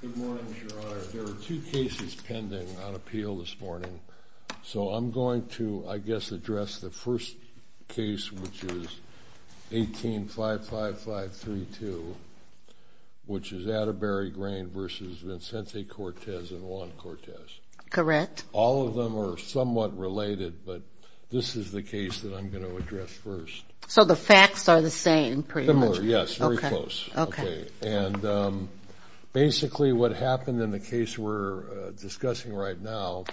Good morning, Your Honor. There are two cases pending on appeal this morning, so I'm going to, I guess, address the first case, which is 18-55532, which is Attebury Grain v. Vicente Cortez and Juan Cortez. Correct. All of them are somewhat related, but this is the case that I'm going to address first. So the facts are the same. Yes, very close. Okay. And basically what happened in the case we're discussing right now,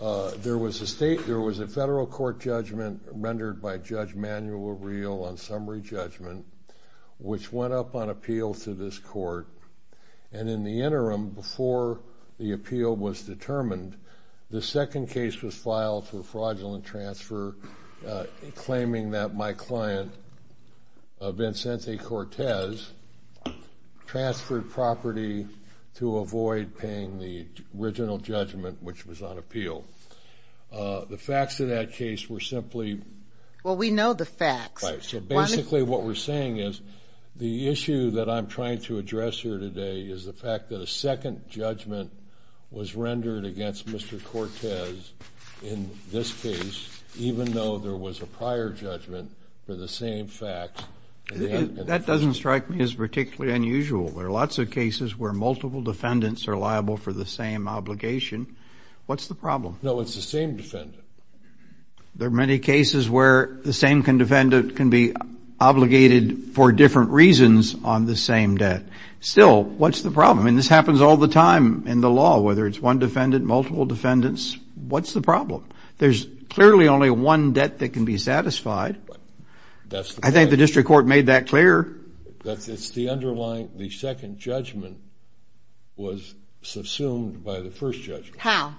there was a state, there was a federal court judgment rendered by Judge Manuel Real on summary judgment, which went up on appeal to this court. And in the interim, before the appeal was determined, the second case was filed for fraudulent transfer, claiming that my client, Vicente Cortez, transferred property to avoid paying the original judgment, which was on appeal. The facts of that case were simply... Well, we know the facts. So basically what we're saying is the issue that I'm trying to address here today is the fact that a second judgment was rendered against Mr. Cortez in this case, even though there was a prior judgment for the same facts. That doesn't strike me as particularly unusual. There are lots of cases where multiple defendants are liable for the same obligation. What's the problem? No, it's the same defendant. There are many cases where the same defendant can be obligated for different reasons on the same debt. Still, what's the problem? And this happens all the time in the law, whether it's one defendant, multiple defendants. What's the problem? There's clearly only one debt that can be satisfied. I think the district court made that clear. It's the underlying... The second judgment was subsumed by the first judgment. How?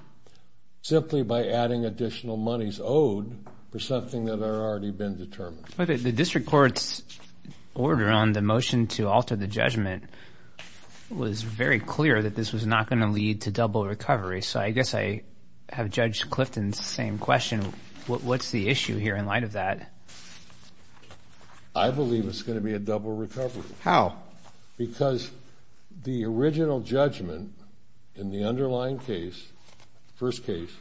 Simply by adding additional monies owed for something that had already been determined. The district court's order on the motion to alter the judgment was very clear that this was not going to lead to double recovery. So I guess I have Judge Clifton's same question. What's the issue here in light of that? I believe it's going to be a double recovery. How? Because the original judgment in the underlying case, first case,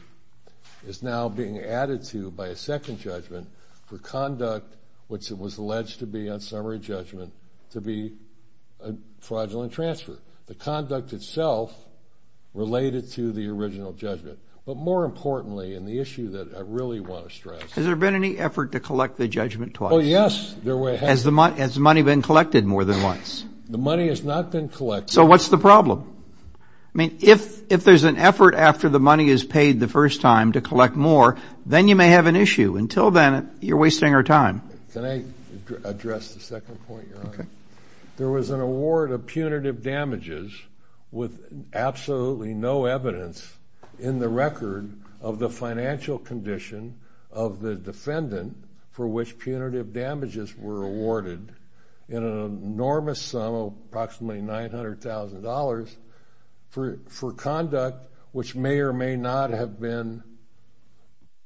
is now being added to by a second judgment for conduct, which it was alleged to be on summary judgment, to be a transfer. The conduct itself related to the original judgment. But more importantly, and the issue that I really want to stress... Has there been any effort to collect the judgment twice? Oh, yes. Has the money been collected more than once? The money has not been collected. So what's the problem? I mean, if there's an effort after the money is paid the first time to collect more, then you may have an issue. Until then, you're wasting our time. Can I address the second point, Your Honor? There was an award of punitive damages with absolutely no evidence in the record of the financial condition of the defendant for which punitive damages were awarded in an enormous sum of approximately $900,000 for conduct which may or may not have been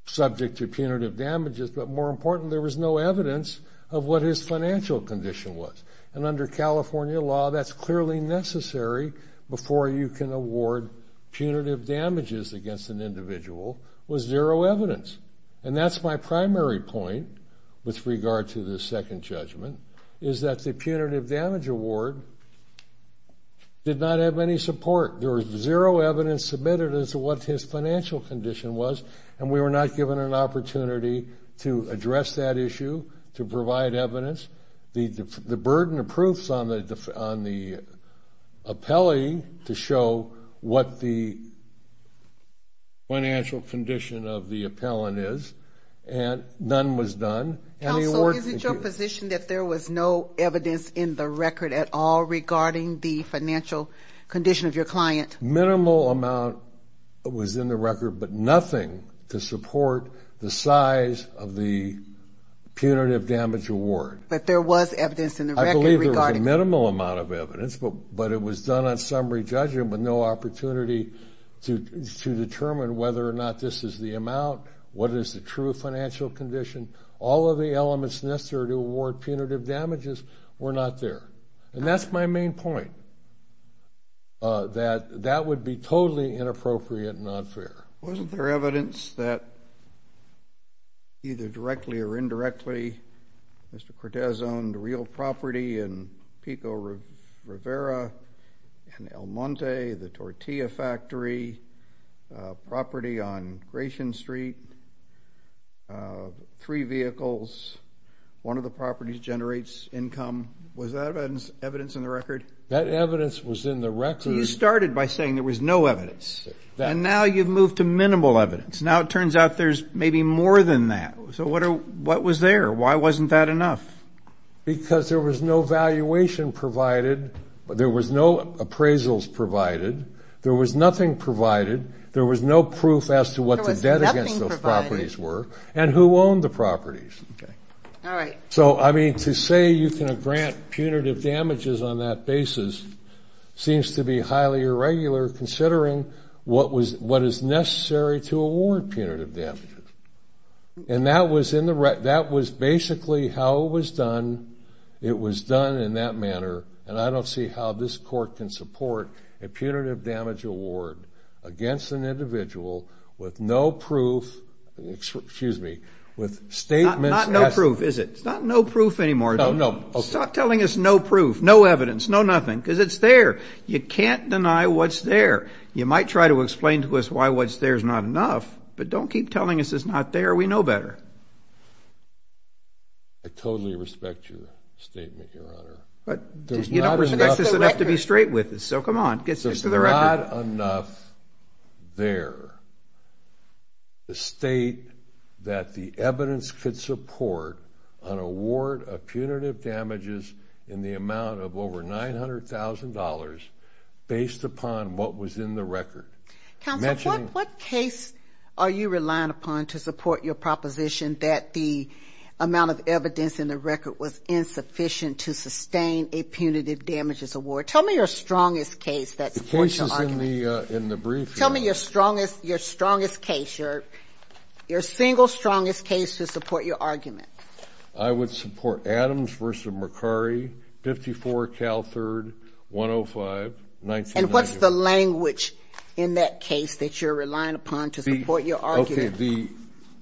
subject to evidence of what his financial condition was. And under California law, that's clearly necessary before you can award punitive damages against an individual with zero evidence. And that's my primary point with regard to the second judgment, is that the punitive damage award did not have any support. There was zero evidence submitted as to what his financial condition was. The burden of proofs on the appellee to show what the financial condition of the appellant is, none was done. Counsel, is it your position that there was no evidence in the record at all regarding the financial condition of your client? Minimal amount was in the record, but nothing to support the size of the punitive damage award. But there was evidence in the record regarding... I believe there was a minimal amount of evidence, but it was done on summary judgment with no opportunity to determine whether or not this is the amount, what is the true financial condition. All of the elements necessary to award punitive damages were not there. And that's my main point, that that would be totally inappropriate and unfair. Wasn't there evidence that either directly or indirectly, Mr. Cortez owned real property in Pico Rivera in El Monte, the Tortilla Factory, property on Gratian Street, three vehicles, one of the properties generates income. Was that evidence in the record? That evidence was in the record. You started by saying there was no evidence, and now you've moved to minimal evidence. Now it turns out there's maybe more than that. So what was there? Why wasn't that enough? Because there was no valuation provided, there was no appraisals provided, there was nothing provided, there was no proof as to what the debt against those properties were, and who owned the properties. So, I mean, to say you can grant punitive damages on that basis seems to be highly irregular, considering what is necessary to award punitive damages. And that was basically how it was done, it was done in that manner, and I don't see how this court can support a punitive damage award against an individual with no proof, excuse me, with statements as to... Not no proof, is it? It's not no proof anymore. No, no, okay. Stop telling us no proof, no evidence, no nothing, because it's there. You can't deny what's there. You might try to explain to us why what's there is not enough, but don't keep telling us it's not there. We know better. I totally respect your statement, Your Honor. But there's not enough... That's just enough to be straight with us, so come on, get to the record. There's not enough there to state that the evidence could support an award of punitive damages in the amount of over $900,000 based upon what was in the record. Counsel, what case are you relying upon to support your proposition that the amount of Tell me your strongest case that supports your argument. The case is in the brief. Tell me your strongest case, your single strongest case to support your argument. I would support Adams v. Mercari, 54 Cal 3rd, 105, 1991. And what's the language in that case that you're relying upon to support your argument? Okay,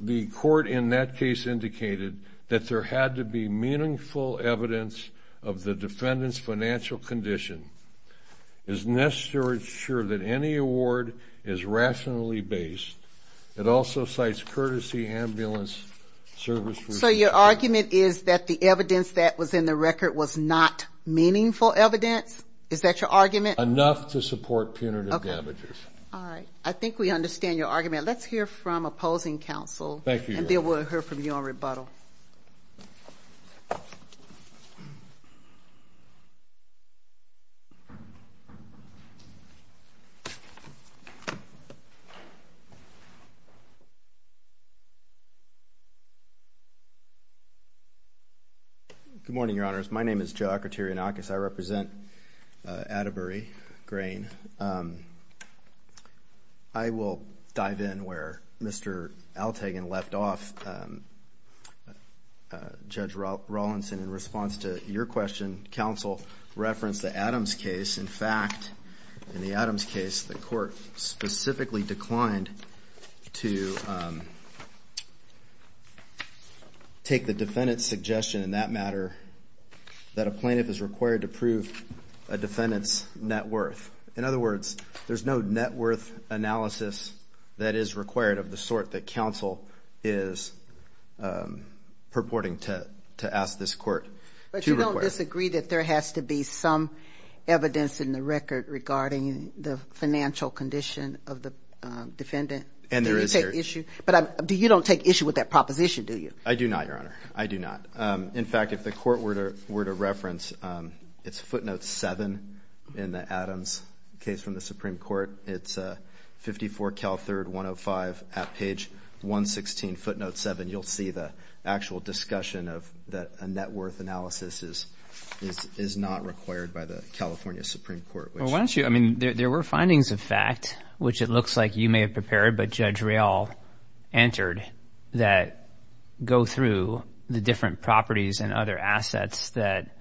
the court in that case indicated that there had to be meaningful evidence of the condition. It's necessary to ensure that any award is rationally based. It also cites courtesy ambulance service... So your argument is that the evidence that was in the record was not meaningful evidence? Is that your argument? Enough to support punitive damages. Okay. All right. I think we understand your argument. Let's hear from opposing counsel. Thank you, Your Honor. And Bill, we'll hear from you on rebuttal. Good morning, Your Honors. My name is Joe Akrotirianakis. I represent Atterbury Grain. I will dive in where Mr. Altagan left off. Judge Rawlinson, in response to your question, counsel referenced the Adams case. In fact, in the Adams case, the court specifically declined to take the defendant's suggestion in that matter that a plaintiff is required to prove a defendant's net worth. In other words, there's no net worth analysis that is required of the sort that counsel is purporting to ask this court to require. But you don't disagree that there has to be some evidence in the record regarding the financial condition of the defendant? And there is there. Do you take issue? But you don't take issue with that proposition, do you? I do not, Your Honor. I do not. In fact, if the court were to reference, it's footnote 7 in the Adams case from the Supreme Court. It's 54 Cal 3rd 105 at page 116, footnote 7. You'll see the actual discussion of the net worth analysis is not required by the California Supreme Court. Well, why don't you? I mean, there were findings of fact, which it looks like you may have prepared, but Judge through the different properties and other assets that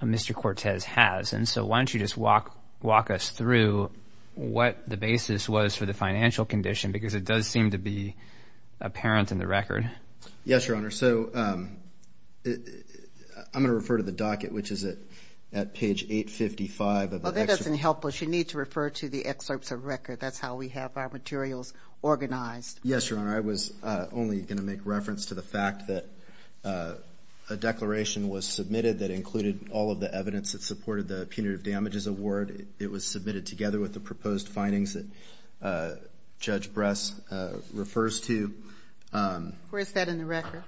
Mr. Cortez has. And so why don't you just walk us through what the basis was for the financial condition? Because it does seem to be apparent in the record. Yes, Your Honor. So I'm going to refer to the docket, which is at page 855 of the excerpt. Well, that doesn't help us. You need to refer to the excerpts of record. That's how we have our materials organized. Yes, Your Honor. I was only going to make reference to the fact that a declaration was submitted that included all of the evidence that supported the punitive damages award. It was submitted together with the proposed findings that Judge Bress refers to. Where is that in the record?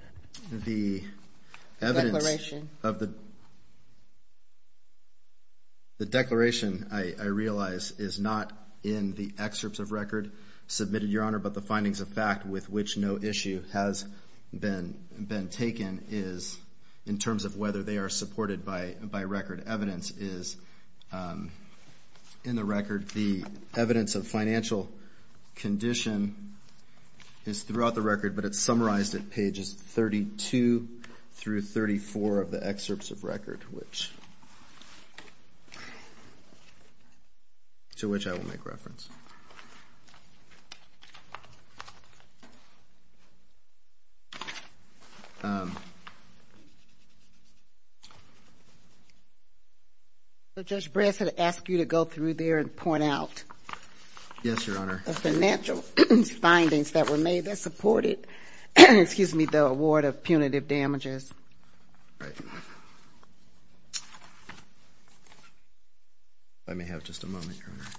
The evidence of the declaration, I realize, is not in the excerpts of record submitted, Your Honor, but the findings of fact with which no issue has been taken is in terms of whether they are supported by record. Evidence is in the record. The evidence of financial condition is throughout the record, but it's summarized at pages 32 through 34 of the excerpts of record, to which I will make reference. Judge Bress had asked you to go through there and point out the financial findings that were made that supported, excuse me, the award of punitive damages. Let me have just a moment, Your Honor.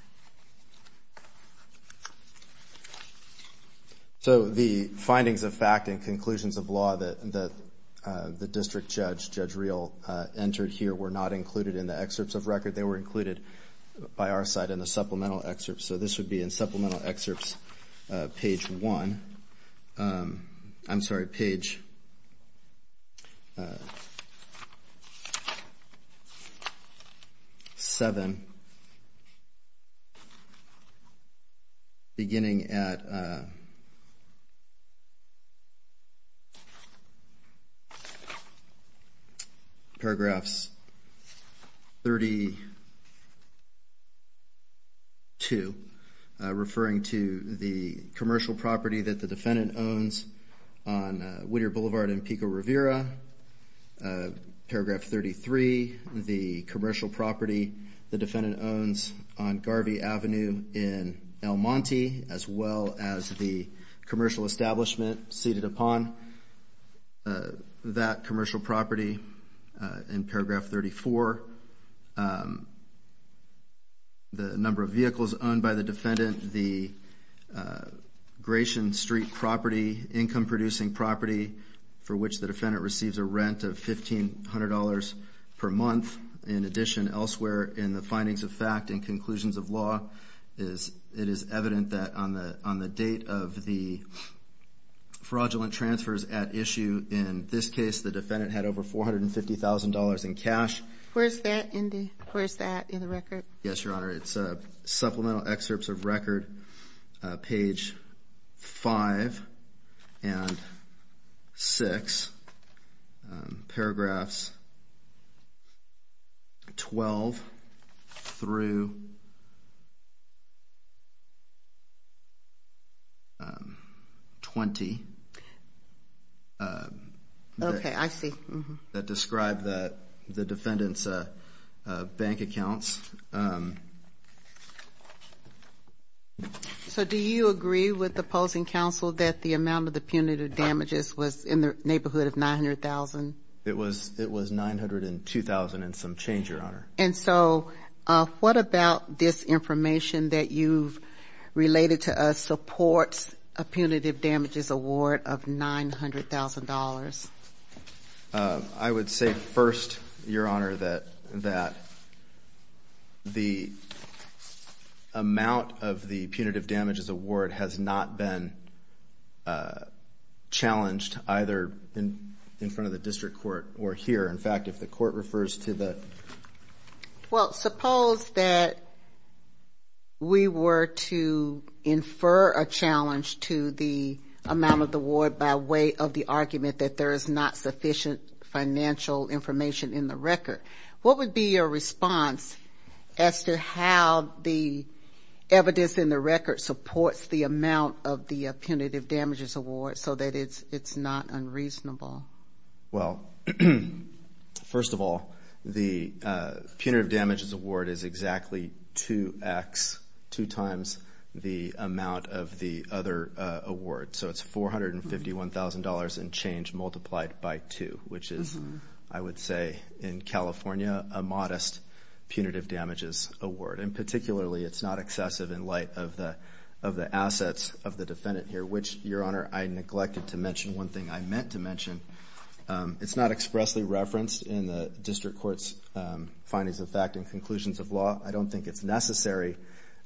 So the findings of fact and conclusions of law that the district judge, Judge Reel, entered here were not included in the excerpts of record. They were included by our side in the supplemental excerpts. So this would be in supplemental excerpts, page 1, I'm sorry, page 7, beginning at paragraphs 32, referring to the commercial property that the defendant owns on Whittier Boulevard in Pico Rivera, paragraph 33, the commercial property the defendant owns on that commercial property in paragraph 34, the number of vehicles owned by the defendant, the Gratian Street property, income-producing property for which the defendant receives a rent of $1,500 per month. In addition, elsewhere in the findings of fact and conclusions of law, it is evident that on the date of the fraudulent transfers at issue, in this case, the defendant had over $450,000 in cash. Where's that, Indy? Where's that in the record? Yes, Your Honor. I'm sorry, it's supplemental excerpts of record, page 5 and 6, paragraphs 12 through 20. Okay, I see. That described the defendant's bank accounts. So do you agree with the opposing counsel that the amount of the punitive damages was in the neighborhood of $900,000? It was $902,000 and some change, Your Honor. And so what about this information that you've related to us supports a punitive damages award of $900,000? I would say first, Your Honor, that the amount of the punitive damages award has not been challenged either in front of the district court or here. In fact, if the court refers to the... Well, suppose that we were to infer a challenge to the amount of the award by way of the argument that there is not sufficient financial information in the record. What would be your response as to how the evidence in the record supports the amount of the punitive damages award so that it's not unreasonable? Well, first of all, the punitive damages award is exactly 2X, two times the amount of the other award. So it's $451,000 and change multiplied by two, which is, I would say, in California, a modest punitive damages award. And particularly, it's not excessive in light of the assets of the defendant here, which, Your Honor, I neglected to mention one thing I meant to mention. It's not expressly referenced in the district court's findings of fact and conclusions of law. I don't think it's necessary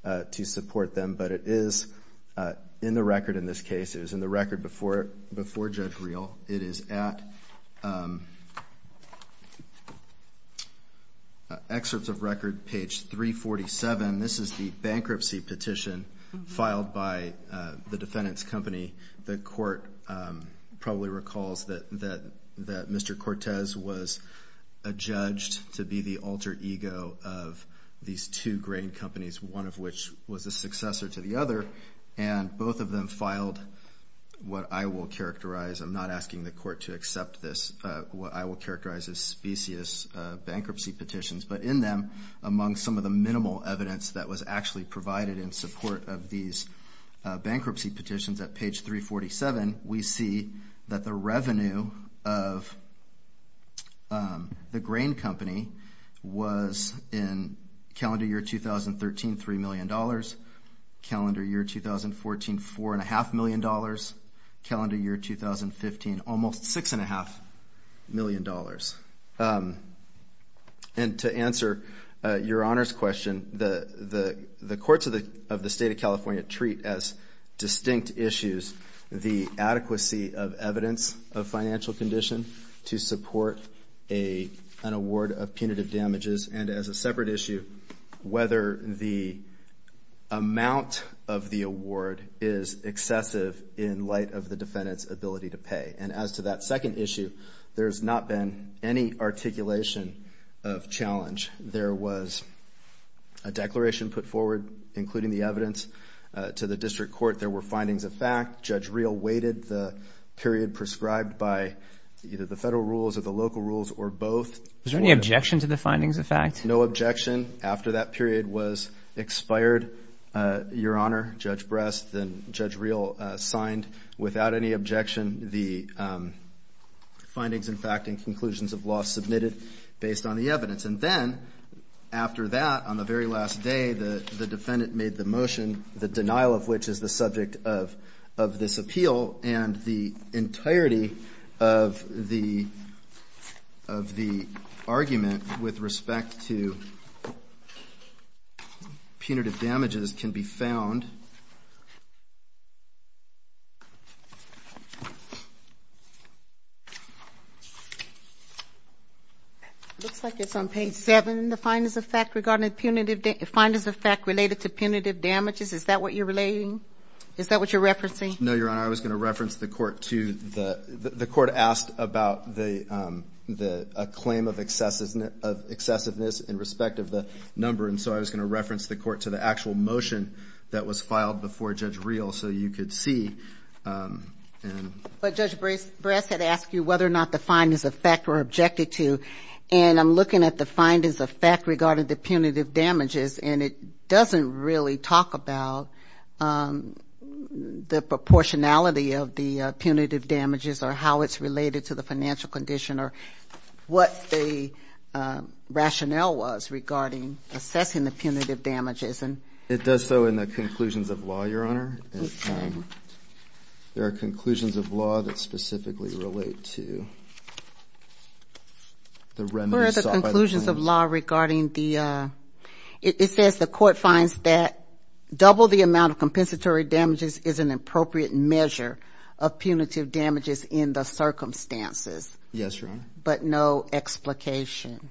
to support them, but it is in the record in this case. It was in the record before Judge Reel. It is at excerpts of record, page 347. This is the bankruptcy petition filed by the defendant's company. The court probably recalls that Mr. Cortez was adjudged to be the alter ego of these two grain companies, one of which was a successor to the other, and both of them filed what I will characterize. I'm not asking the court to accept this. What I will characterize as specious bankruptcy petitions, but in them, among some of the evidence that was actually provided in support of these bankruptcy petitions at page 347, we see that the revenue of the grain company was in calendar year 2013, $3 million, calendar year 2014, $4.5 million, calendar year 2015, almost $6.5 million. And to answer your Honor's question, the courts of the State of California treat as distinct issues the adequacy of evidence of financial condition to support an award of punitive damages, and as a separate issue, whether the amount of the award is excessive in light of the defendant's ability to pay. And as to that second issue, there's not been any articulation of challenge. There was a declaration put forward, including the evidence, to the district court. There were findings of fact. Judge Reel waited the period prescribed by either the federal rules or the local rules or both. Is there any objection to the findings of fact? No objection. After that period was expired, Your Honor, Judge Brest, then Judge Reel signed without any objection the findings of fact and conclusions of law submitted based on the evidence. And then after that, on the very last day, the defendant made the motion, the denial of which is the subject of this appeal, and the entirety of the argument with respect to punitive damages can be found. It looks like it's on page 7, the findings of fact regarding punitive damages. Is that what you're relating? Is that what you're referencing? No, Your Honor. I was going to reference the court to the court asked about the claim of excessiveness in respect of the number, and so I was going to reference the court to the actual motion that was filed before Judge Reel so you could see. But Judge Brest had asked you whether or not the findings of fact were objected to, and I'm looking at the findings of fact regarding the punitive damages, and it doesn't really talk about the proportionality of the punitive damages or how it's related to the financial condition or what the rationale was regarding assessing the punitive damages. It does so in the conclusions of law, Your Honor. There are conclusions of law that specifically relate to the remedies sought by the plaintiffs. What are the conclusions of law regarding the, it says the court finds that double the Yes, Your Honor. But no explication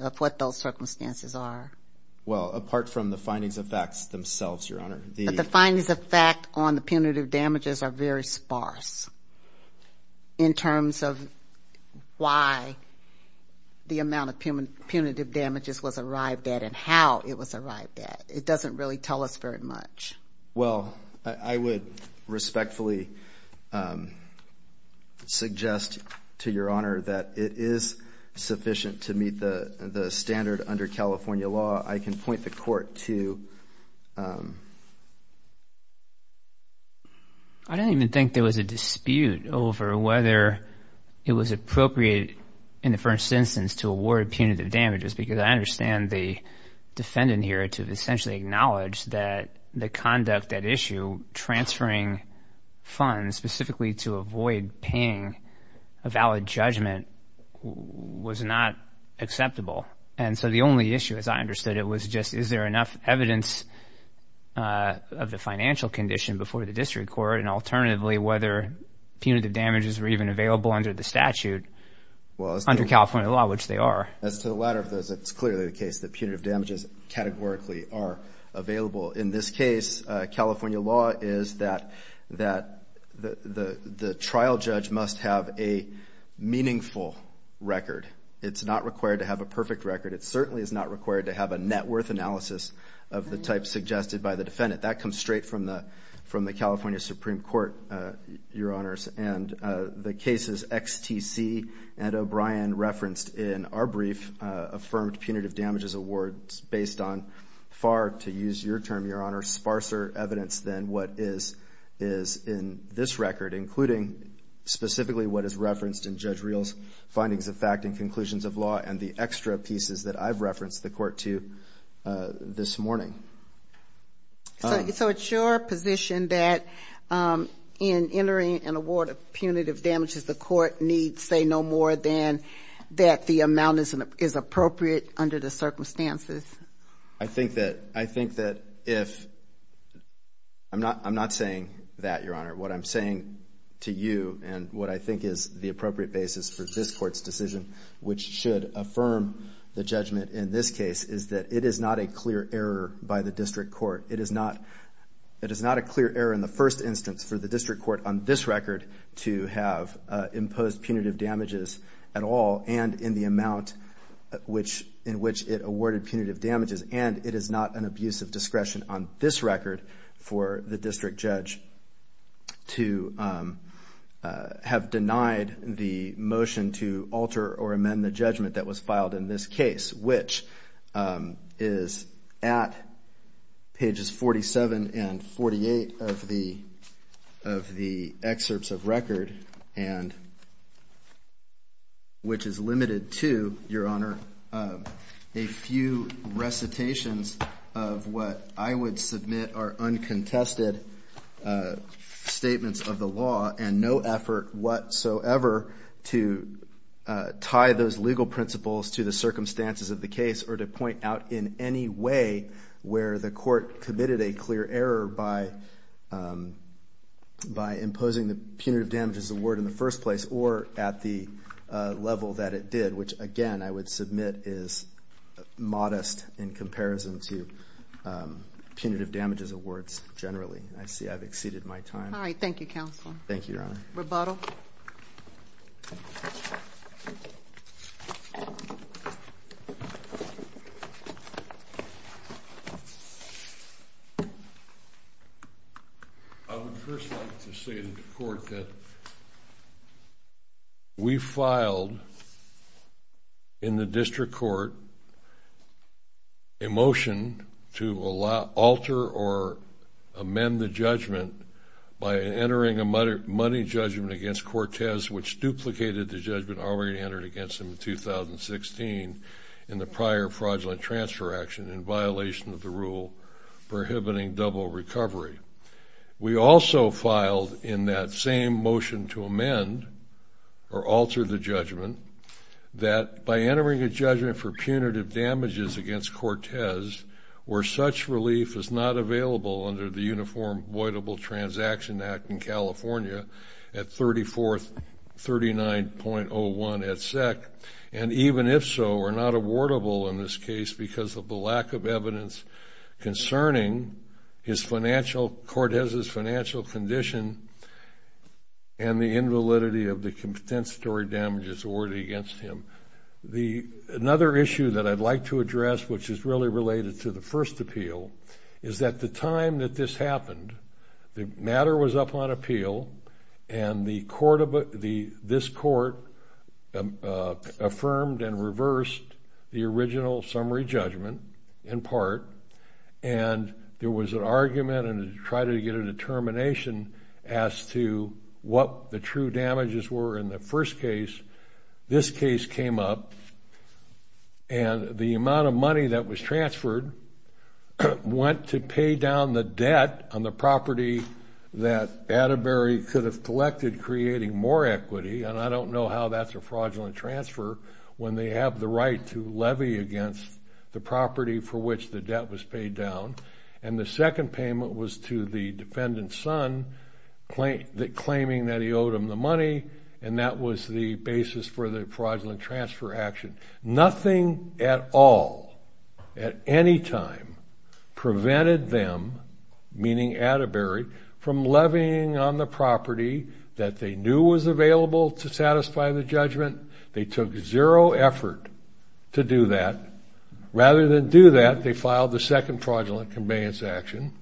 of what those circumstances are? Well, apart from the findings of facts themselves, Your Honor. But the findings of fact on the punitive damages are very sparse in terms of why the amount of punitive damages was arrived at and how it was arrived at. It doesn't really tell us very much. Well, I would respectfully suggest to Your Honor that it is sufficient to meet the standard under California law. I can point the court to... I don't even think there was a dispute over whether it was appropriate in the first instance to award punitive damages because I understand the defendant here to essentially acknowledge that the conduct at issue transferring funds specifically to avoid paying a valid judgment was not acceptable. And so the only issue, as I understood it, was just is there enough evidence of the financial condition before the district court and alternatively whether punitive damages were even available under the statute under California law, which they are. As to the latter of those, it's clearly the case that punitive damages categorically are available. In this case, California law is that the trial judge must have a meaningful record. It's not required to have a perfect record. It certainly is not required to have a net worth analysis of the type suggested by the defendant. That comes straight from the California Supreme Court, Your Honors. And the cases XTC and O'Brien referenced in our brief affirmed punitive damages awards is based on far, to use your term, Your Honor, sparser evidence than what is in this record, including specifically what is referenced in Judge Reel's findings of fact and conclusions of law and the extra pieces that I've referenced the court to this morning. So it's your position that in entering an award of punitive damages, the court needs to say no more than that the amount is appropriate under the circumstances? I think that if, I'm not saying that, Your Honor. What I'm saying to you and what I think is the appropriate basis for this court's decision, which should affirm the judgment in this case, is that it is not a clear error by the district court. It is not a clear error in the first instance for the district court on this record to have imposed punitive damages at all and in the amount in which it awarded punitive damages. And it is not an abuse of discretion on this record for the district judge to have denied the motion to alter or amend the judgment that was filed in this case, which is at pages 47 and 48 of the excerpts of record, which is limited to, Your Honor, a few recitations of what I would submit are uncontested statements of the law and no effort whatsoever to tie those legal principles to the circumstances of the case or to point out in any way where the court committed a clear error by imposing the punitive damages award in the first place or at the level that it did, which again I would submit is modest in comparison to punitive damages awards generally. I see I've exceeded my time. All right. Thank you, Counselor. Thank you, Your Honor. Rebuttal. I would first like to say to the court that we filed in the district court a motion to alter or amend the judgment by entering a money judgment against Cortez, which duplicated the judgment already entered against him in 2016 in the prior fraudulent transfer action in violation of the rule prohibiting double recovery. We also filed in that same motion to amend or alter the judgment that by entering a judgment for punitive damages against Cortez where such relief is not available under the Uniform Voidable Transaction Act in California at 3439.01 et sec and even if so are not awardable in this case because of the lack of evidence concerning Cortez's financial condition and the invalidity of the compensatory damages awarded against him. Another issue that I'd like to address which is really related to the first appeal is that the time that this happened, the matter was up on appeal and this court affirmed and reversed the original summary judgment in part and there was an argument and tried to get a determination as to what the true damages were in the first case. This case came up and the amount of money that was transferred went to pay down the debt on the property that Atterbury could have collected creating more equity and I don't know how that's a fraudulent transfer when they have the right to levy against the property for which the debt was paid down. And the second payment was to the defendant's son claiming that he owed him the money and that was the basis for the fraudulent transfer action. Nothing at all at any time prevented them, meaning Atterbury, from levying on the property that they knew was available to satisfy the judgment. They took zero effort to do that. Rather than do that, they filed the second fraudulent conveyance action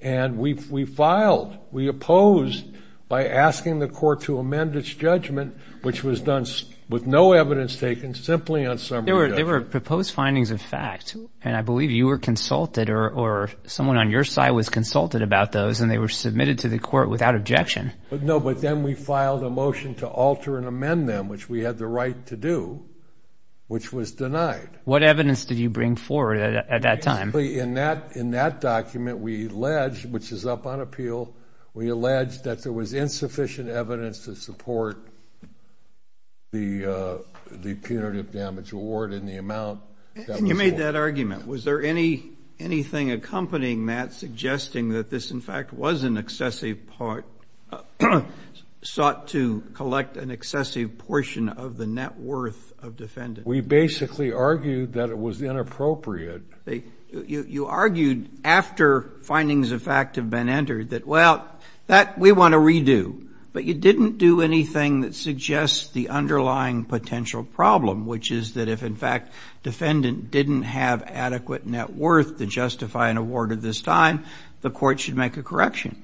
and we filed, we opposed by asking the court to amend its judgment which was done with no evidence taken simply on summary judgment. There were proposed findings of fact and I believe you were consulted or someone on your side was consulted about those and they were submitted to the court without objection. No, but then we filed a motion to alter and amend them which we had the right to do which was denied. What evidence did you bring forward at that time? In that document, we alleged, which is up on appeal, we alleged that there was insufficient evidence to support the punitive damage award and the amount. You made that argument. Was there anything accompanying that suggesting that this in fact was an excessive part, sought to collect an excessive portion of the net worth of defendants? We basically argued that it was inappropriate. You argued after findings of fact have been entered that, well, that we want to redo, but you didn't do anything that suggests the underlying potential problem which is that if in fact defendant didn't have adequate net worth to justify an award at this time, the court should make a correction.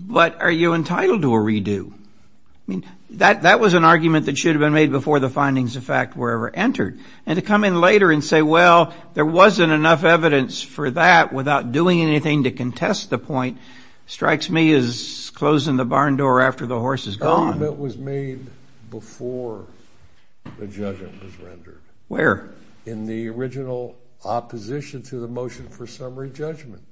But are you entitled to a redo? I mean, that was an argument that should have been made before the findings of fact were ever entered. And to come in later and say, well, there wasn't enough evidence for that without doing anything to contest the point, strikes me as closing the barn door after the horse is gone. The argument was made before the judgment was rendered. Where? In the original opposition to the motion for summary judgment.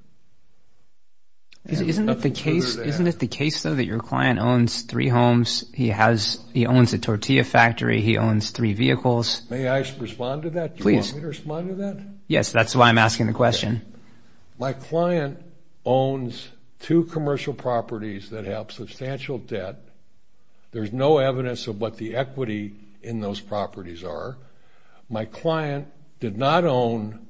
Isn't it the case, though, that your client owns three homes? He owns a tortilla factory. He owns three vehicles. May I respond to that? Please. Do you want me to respond to that? Yes. That's why I'm asking the question. My client owns two commercial properties that have substantial debt. There's no evidence of what the equity in those properties are. My client did not own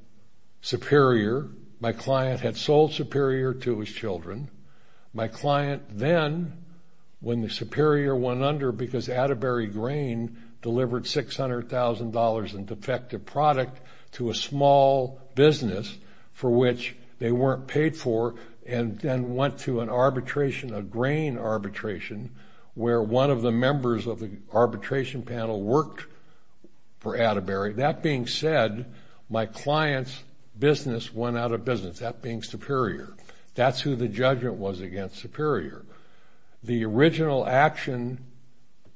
Superior. My client had sold Superior to his children. My client then, when the Superior went under because Atterbury Grain delivered $600,000 in defective product to a small business for which they weren't paid for and then went to an arbitration, a grain arbitration, where one of the members of the arbitration panel worked for Atterbury. That being said, my client's business went out of business, that being Superior. That's who the judgment was against, Superior. The original action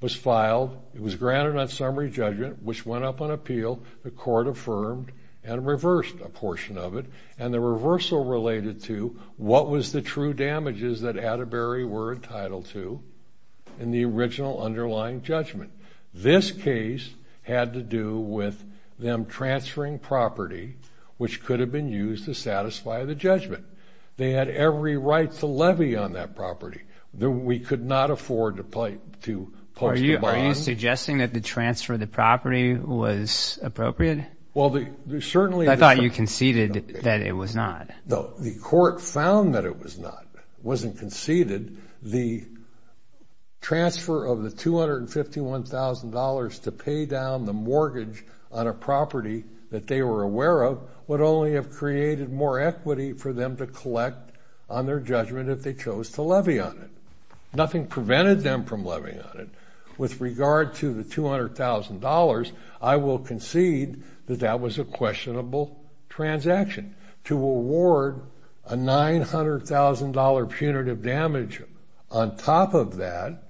was filed. It was granted on summary judgment, which went up on appeal. The court affirmed and reversed a portion of it, and the reversal related to what was the true damages that Atterbury were entitled to in the original underlying judgment. This case had to do with them transferring property, which could have been used to satisfy the judgment. They had every right to levy on that property. We could not afford to post a bond. Are you suggesting that the transfer of the property was appropriate? Well, there's certainly... I thought you conceded that it was not. No, the court found that it was not, wasn't conceded. The transfer of the $251,000 to pay down the mortgage on a property that they were aware of would only have created more equity for them to collect on their judgment if they chose to levy on it. Nothing prevented them from levying on it. With regard to the $200,000, I will concede that that was a questionable transaction. To award a $900,000 punitive damage on top of that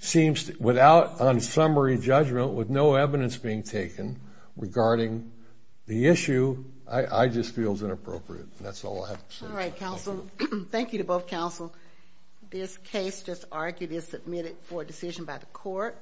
seems, without unsummary judgment, with no evidence being taken regarding the issue, I just feel is inappropriate. That's all I have to say. All right, counsel. Thank you to both counsel. This case, just argued, is submitted for decision by the court.